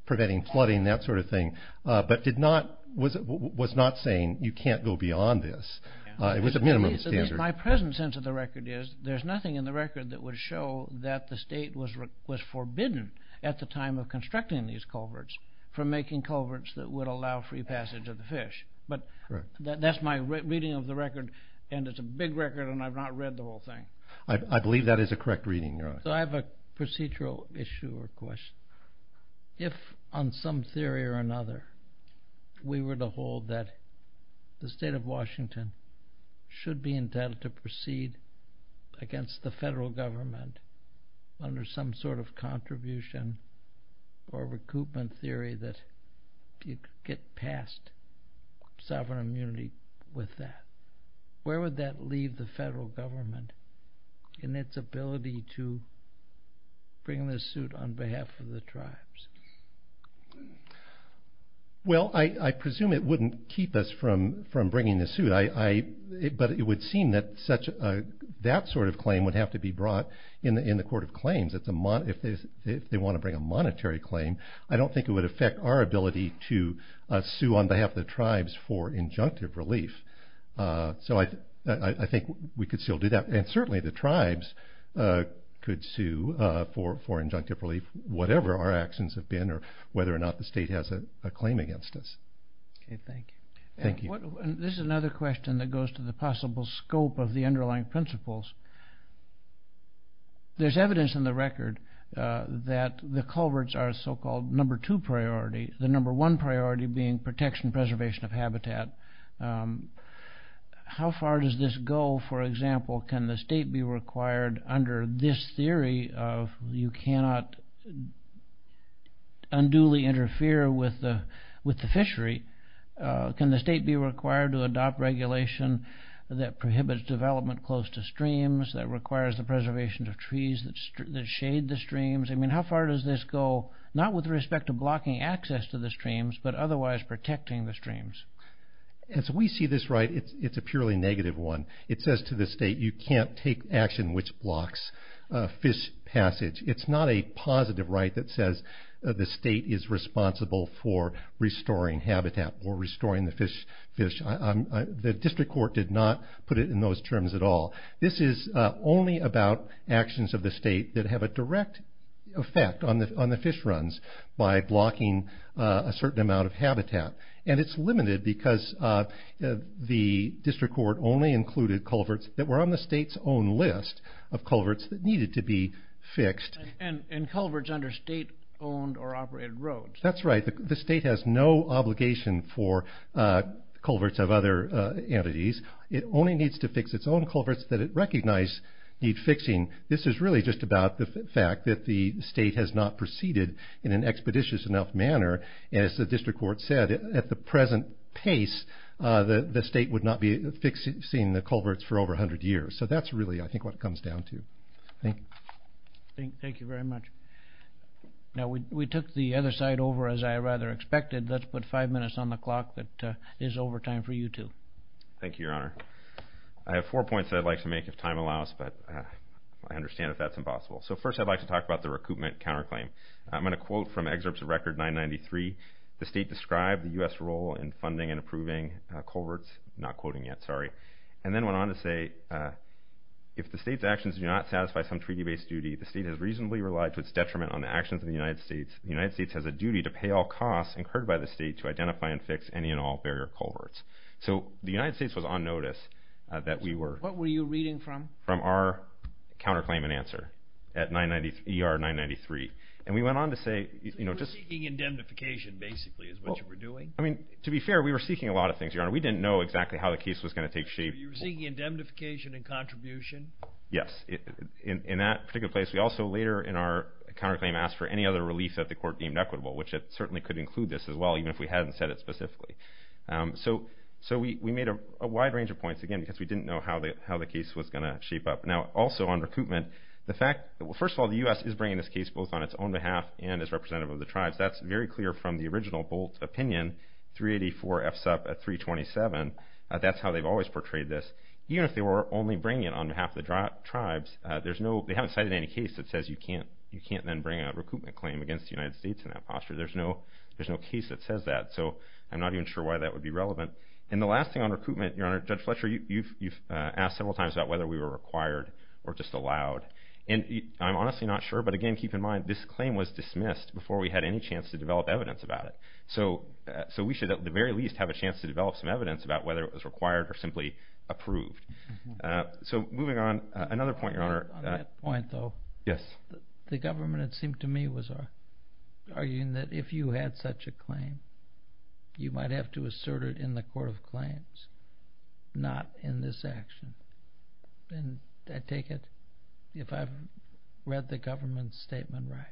preventing flooding, that sort of thing, but was not saying you can't go beyond this. It was a minimum standard. My present sense of the record is there's nothing in the record that would show that the state was forbidden at the time of constructing these culverts from making culverts that would allow free passage of the fish. That's my reading of the record, and it's a big record, and I've not read the whole thing. I believe that is a correct reading. I have a procedural issue or question. If, on some theory or another, we were to hold that the state of Washington should be intended to proceed against the federal government under some sort of contribution or recoupment theory that you could get past sovereign immunity with that, where would that leave the federal government in its ability to bring this suit on behalf of the tribes? Well, I presume it wouldn't keep us from bringing the suit, but it would seem that that sort of claim would have to be brought in the Court of Claims. If they want to bring a monetary claim, I don't think it would affect our ability to sue on behalf of the tribes for injunctive relief. So I think we could still do that, and certainly the tribes could sue for injunctive relief, whatever our actions have been or whether or not the state has a claim against us. Okay, thank you. Thank you. This is another question that goes to the possible scope of the underlying principles. There's evidence in the record that the culverts are a so-called number two priority, the number one priority being protection and preservation of habitat. How far does this go? For example, can the state be required under this theory of you cannot unduly interfere with the fishery? Can the state be required to adopt regulation that prohibits development close to streams, that requires the preservation of trees that shade the streams? I mean, how far does this go, not with respect to blocking access to the streams, but otherwise protecting the streams? As we see this right, it's a purely negative one. It says to the state you can't take action which blocks fish passage. It's not a positive right that says the state is responsible for restoring habitat or restoring the fish. The district court did not put it in those terms at all. This is only about actions of the state that have a direct effect on the fish runs by blocking a certain amount of habitat. It's limited because the district court only included culverts that were on the state's own list of culverts that needed to be fixed. Culverts under state-owned or operated roads. That's right. The state has no obligation for culverts of other entities. It only needs to fix its own culverts that it recognizes need fixing. This is really just about the fact that the state has not proceeded in an expeditious enough manner. As the district court said, at the present pace, the state would not be fixing the culverts for over 100 years. So that's really, I think, what it comes down to. Thank you. Thank you very much. Now, we took the other side over, as I rather expected. Let's put five minutes on the clock that is over time for you two. Thank you, Your Honor. I have four points that I'd like to make if time allows, but I understand if that's impossible. So first I'd like to talk about the recoupment counterclaim. I'm going to quote from excerpts of Record 993. The state described the U.S. role in funding and approving culverts. I'm not quoting yet, sorry. And then went on to say, if the state's actions do not satisfy some treaty-based duty, the state has reasonably relied to its detriment on the actions of the United States. The United States has a duty to pay all costs incurred by the state to identify and fix any and all barrier culverts. So the United States was on notice that we were. What were you reading from? From our counterclaim and answer at ER 993. And we went on to say, you know, just... You were seeking indemnification, basically, is what you were doing? I mean, to be fair, we were seeking a lot of things, Your Honor. We didn't know exactly how the case was going to take shape. You were seeking indemnification and contribution? Yes. In that particular place, we also later in our counterclaim asked for any other relief that the court deemed equitable, which it certainly could include this as well, even if we hadn't said it specifically. So we made a wide range of points, again, because we didn't know how the case was going to shape up. Now, also on recoupment, the fact... Well, first of all, the U.S. is bringing this case both on its own behalf and as representative of the tribes. That's very clear from the original Bolt opinion, 384 FSUP at 327. That's how they've always portrayed this. Even if they were only bringing it on behalf of the tribes, there's no... They haven't cited any case that says you can't then bring a recoupment claim against the United States in that posture. There's no case that says that. So I'm not even sure why that would be relevant. And the last thing on recoupment, Your Honor, Judge Fletcher, you've asked several times about whether we were required or just allowed. And I'm honestly not sure, but again, keep in mind, this claim was dismissed before we had any chance to develop evidence about it. So we should at the very least have a chance to develop some evidence about whether it was required or simply approved. So moving on, another point, Your Honor. On that point, though. Yes. The government, it seemed to me, was arguing that if you had such a claim, you might have to assert it in the court of claims, not in this action. And I take it, if I've read the government's statement right,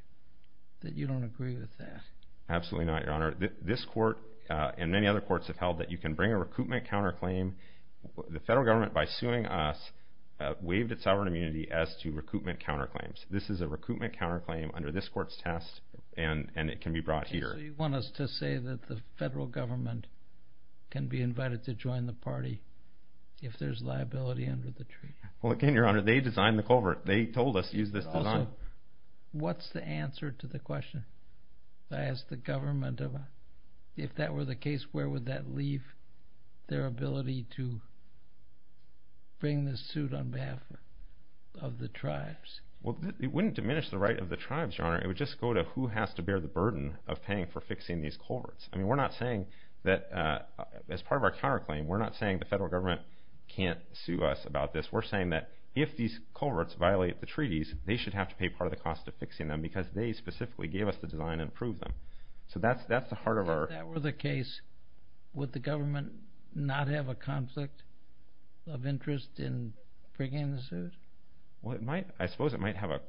that you don't agree with that. Absolutely not, Your Honor. This court and many other courts have held that you can bring a recoupment counterclaim. The federal government, by suing us, waived its sovereign immunity as to recoupment counterclaims. This is a recoupment counterclaim under this court's test, and it can be brought here. So you want us to say that the federal government can be invited to join the party if there's liability under the treaty. Well, again, Your Honor, they designed the culvert. They told us to use this design. But also, what's the answer to the question? I asked the government, if that were the case, where would that leave their ability to bring this suit on behalf of the tribes? Well, it wouldn't diminish the right of the tribes, Your Honor. It would just go to who has to bear the burden of paying for fixing these culverts. I mean, we're not saying that, as part of our counterclaim, we're not saying the federal government can't sue us about this. We're saying that if these culverts violate the treaties, they should have to pay part of the cost of fixing them because they specifically gave us the design and approved them. So that's the heart of our… If that were the case, would the government not have a conflict of interest in bringing the suit? Well, it might. I suppose it might have a…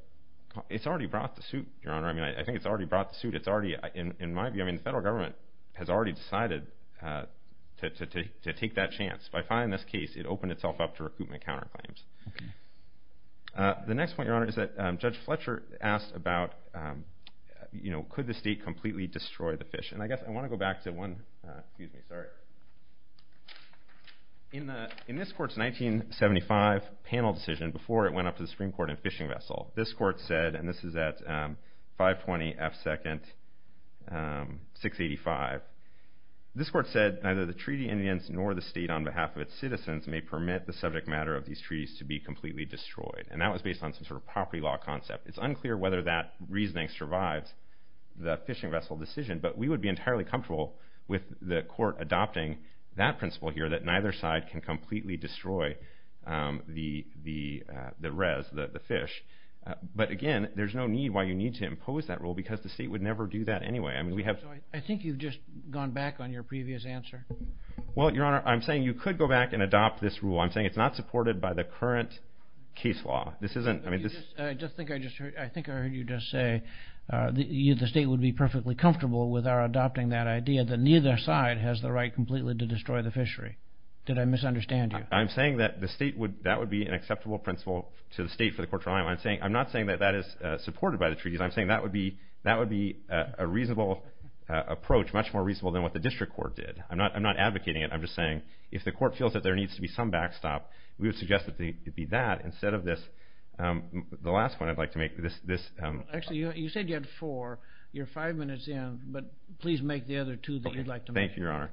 It's already brought the suit, Your Honor. I mean, I think it's already brought the suit. It's already, in my view, I mean, the federal government has already decided to take that chance. By filing this case, it opened itself up to recoupment counterclaims. Okay. The next point, Your Honor, is that Judge Fletcher asked about, you know, could the state completely destroy the fish? And I guess I want to go back to one… Excuse me. Sorry. In this court's 1975 panel decision, before it went up to the Supreme Court in Fishing Vessel, this court said, and this is at 520 F2nd 685, this court said, neither the treaty in the end nor the state on behalf of its citizens may permit the subject matter of these treaties to be completely destroyed. And that was based on some sort of property law concept. It's unclear whether that reasoning survives the Fishing Vessel decision, but we would be entirely comfortable with the court adopting that principle here, that neither side can completely destroy the res, the fish. But, again, there's no need why you need to impose that rule because the state would never do that anyway. I mean, we have… I think you've just gone back on your previous answer. Well, Your Honor, I'm saying you could go back and adopt this rule. I'm saying it's not supported by the current case law. This isn't… I think I heard you just say the state would be perfectly comfortable with our adopting that idea that neither side has the right completely to destroy the fishery. Did I misunderstand you? I'm saying that would be an acceptable principle to the state for the court to rely on. I'm not saying that that is supported by the treaties. I'm saying that would be a reasonable approach, much more reasonable than what the district court did. I'm not advocating it. I'm just saying if the court feels that there needs to be some backstop, we would suggest that it be that instead of this. The last one I'd like to make, this… Actually, you said you had four. You're five minutes in, but please make the other two that you'd like to make. Thank you, Your Honor.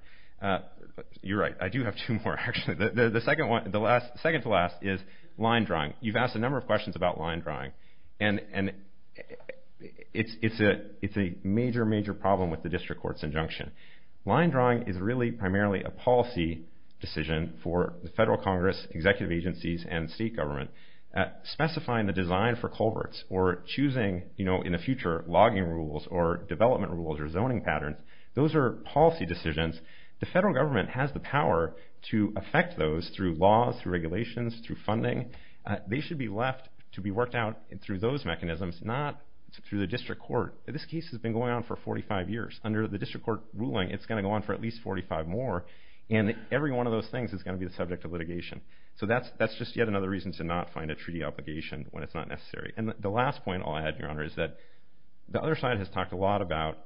You're right. I do have two more, actually. The second to last is line drawing. You've asked a number of questions about line drawing, and it's a major, major problem with the district court's injunction. Line drawing is really primarily a policy decision for the federal congress, executive agencies, and state government. Specifying the design for culverts or choosing, you know, in the future logging rules or development rules or zoning patterns, those are policy decisions. The federal government has the power to affect those through laws, through regulations, through funding. They should be left to be worked out through those mechanisms, not through the district court. This case has been going on for 45 years. Under the district court ruling, it's going to go on for at least 45 more, and every one of those things is going to be the subject of litigation. So that's just yet another reason to not find a treaty obligation when it's not necessary. And the last point I'll add, Your Honor, is that the other side has talked a lot about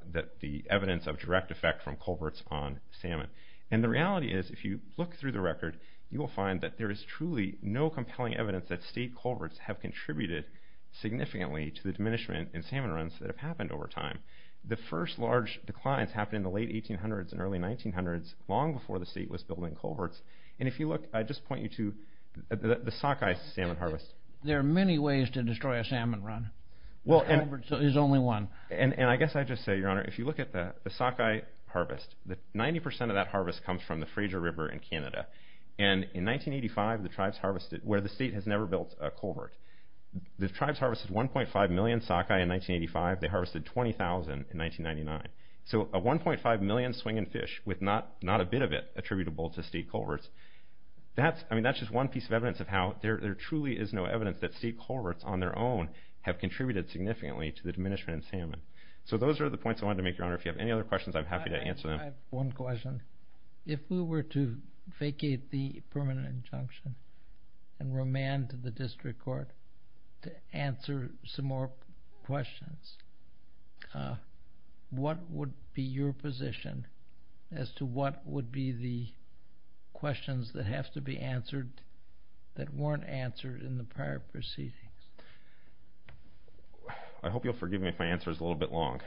the evidence of direct effect from culverts on salmon. And the reality is if you look through the record, you will find that there is truly no compelling evidence that state culverts have contributed significantly to the diminishment in salmon runs that have happened over time. The first large declines happened in the late 1800s and early 1900s, long before the state was building culverts. And if you look, I'd just point you to the sockeye salmon harvest. There are many ways to destroy a salmon run. There's only one. And I guess I'd just say, Your Honor, if you look at the sockeye harvest, 90% of that harvest comes from the Fraser River in Canada. And in 1985, the tribes harvested where the state has never built a culvert. The tribes harvested 1.5 million sockeye in 1985. They harvested 20,000 in 1999. So a 1.5 million swinging fish with not a bit of it attributable to state culverts, that's just one piece of evidence of how there truly is no evidence that state culverts on their own have contributed significantly to the diminishment in salmon. So those are the points I wanted to make, Your Honor. If you have any other questions, I'm happy to answer them. I have one question. If we were to vacate the permanent injunction and remand to the district court to answer some more questions, what would be your position as to what would be the questions that have to be answered that weren't answered in the prior proceedings? I hope you'll forgive me if my answer is a little bit long.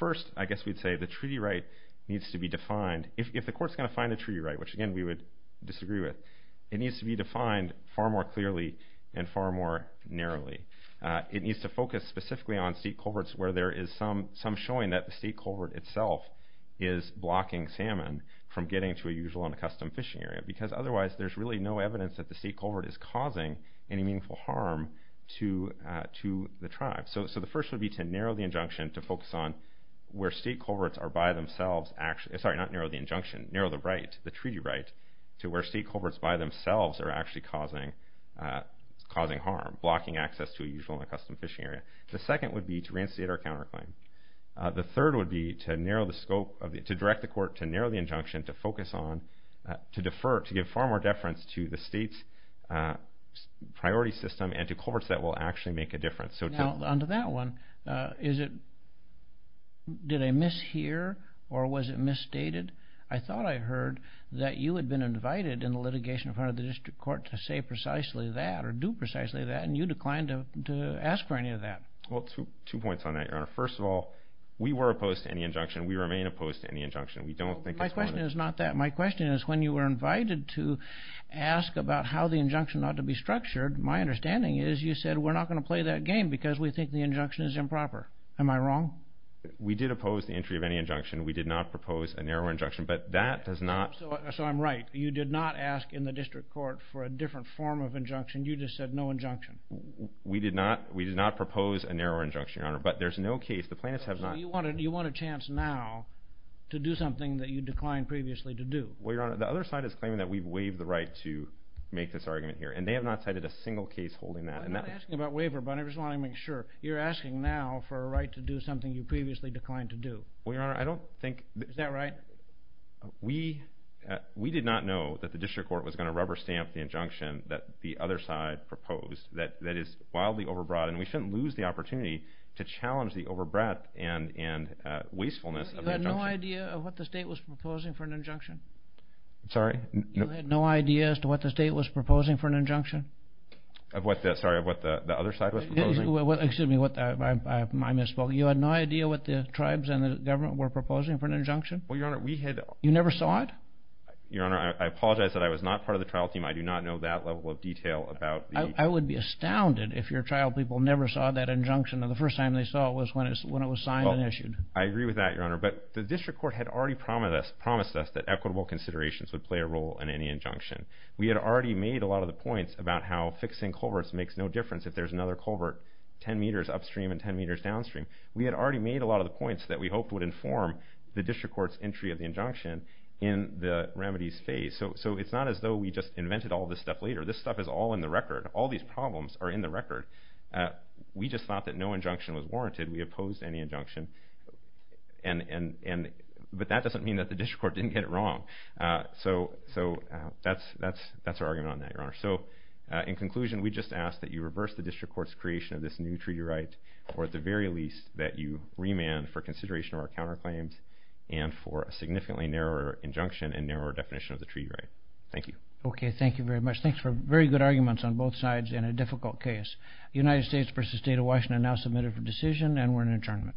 First, I guess we'd say the treaty right needs to be defined. If the court's going to find a treaty right, which again we would disagree with, it needs to be defined far more clearly and far more narrowly. It needs to focus specifically on state culverts where there is some showing that the state culvert itself is blocking salmon from getting to a usual and a custom fishing area because otherwise there's really no evidence that the state culvert is causing any meaningful harm to the tribe. So the first would be to narrow the injunction to focus on where state culverts are by themselves. Sorry, not narrow the injunction, narrow the right, the treaty right, to where state culverts by themselves are actually causing harm, blocking access to a usual and a custom fishing area. The second would be to reinstate our counterclaim. The third would be to direct the court to narrow the injunction to focus on, to defer, to give far more deference to the state's priority system and to culverts that will actually make a difference. On to that one, did I mishear or was it misstated? I thought I heard that you had been invited in the litigation in front of the district court to say precisely that or do precisely that and you declined to ask for any of that. Well, two points on that, Your Honor. First of all, we were opposed to any injunction. We remain opposed to any injunction. My question is not that. My question is when you were invited to ask about how the injunction ought to be structured, my understanding is you said we're not going to play that game because we think the injunction is improper. Am I wrong? We did oppose the entry of any injunction. We did not propose a narrower injunction, but that does not. So I'm right. You did not ask in the district court for a different form of injunction. You just said no injunction. We did not propose a narrower injunction, Your Honor, but there's no case. The plaintiffs have not. So you want a chance now to do something that you declined previously to do. Well, Your Honor, the other side is claiming that we've waived the right to make this argument here, and they have not cited a single case holding that. I'm not asking about waiver, but I just want to make sure. You're asking now for a right to do something you previously declined to do. Well, Your Honor, I don't think. Is that right? We did not know that the district court was going to rubber stamp the injunction that the other side proposed that is wildly overbroad, and we shouldn't lose the opportunity to challenge the overbreadth and wastefulness of the injunction. You had no idea of what the state was proposing for an injunction? Sorry? You had no idea as to what the state was proposing for an injunction? Sorry, of what the other side was proposing? Excuse me, I misspoke. You had no idea what the tribes and the government were proposing for an injunction? Well, Your Honor, we had. You never saw it? Your Honor, I apologize that I was not part of the trial team. I do not know that level of detail about the... I would be astounded if your trial people never saw that injunction, and the first time they saw it was when it was signed and issued. I agree with that, Your Honor, but the district court had already promised us that equitable considerations would play a role in any injunction. We had already made a lot of the points about how fixing culverts makes no difference if there's another culvert 10 meters upstream and 10 meters downstream. We had already made a lot of the points that we hoped would inform the district court's entry of the injunction in the remedies phase. So it's not as though we just invented all this stuff later. This stuff is all in the record. All these problems are in the record. We just thought that no injunction was warranted. We opposed any injunction. But that doesn't mean that the district court didn't get it wrong. So that's our argument on that, Your Honor. So in conclusion, we just ask that you reverse the district court's creation of this new treaty right, or at the very least that you remand for consideration of our counterclaims and for a significantly narrower injunction and narrower definition of the treaty right. Thank you. Okay, thank you very much. Thanks for very good arguments on both sides in a difficult case. The United States v. State of Washington now submitted for decision, and we're in adjournment.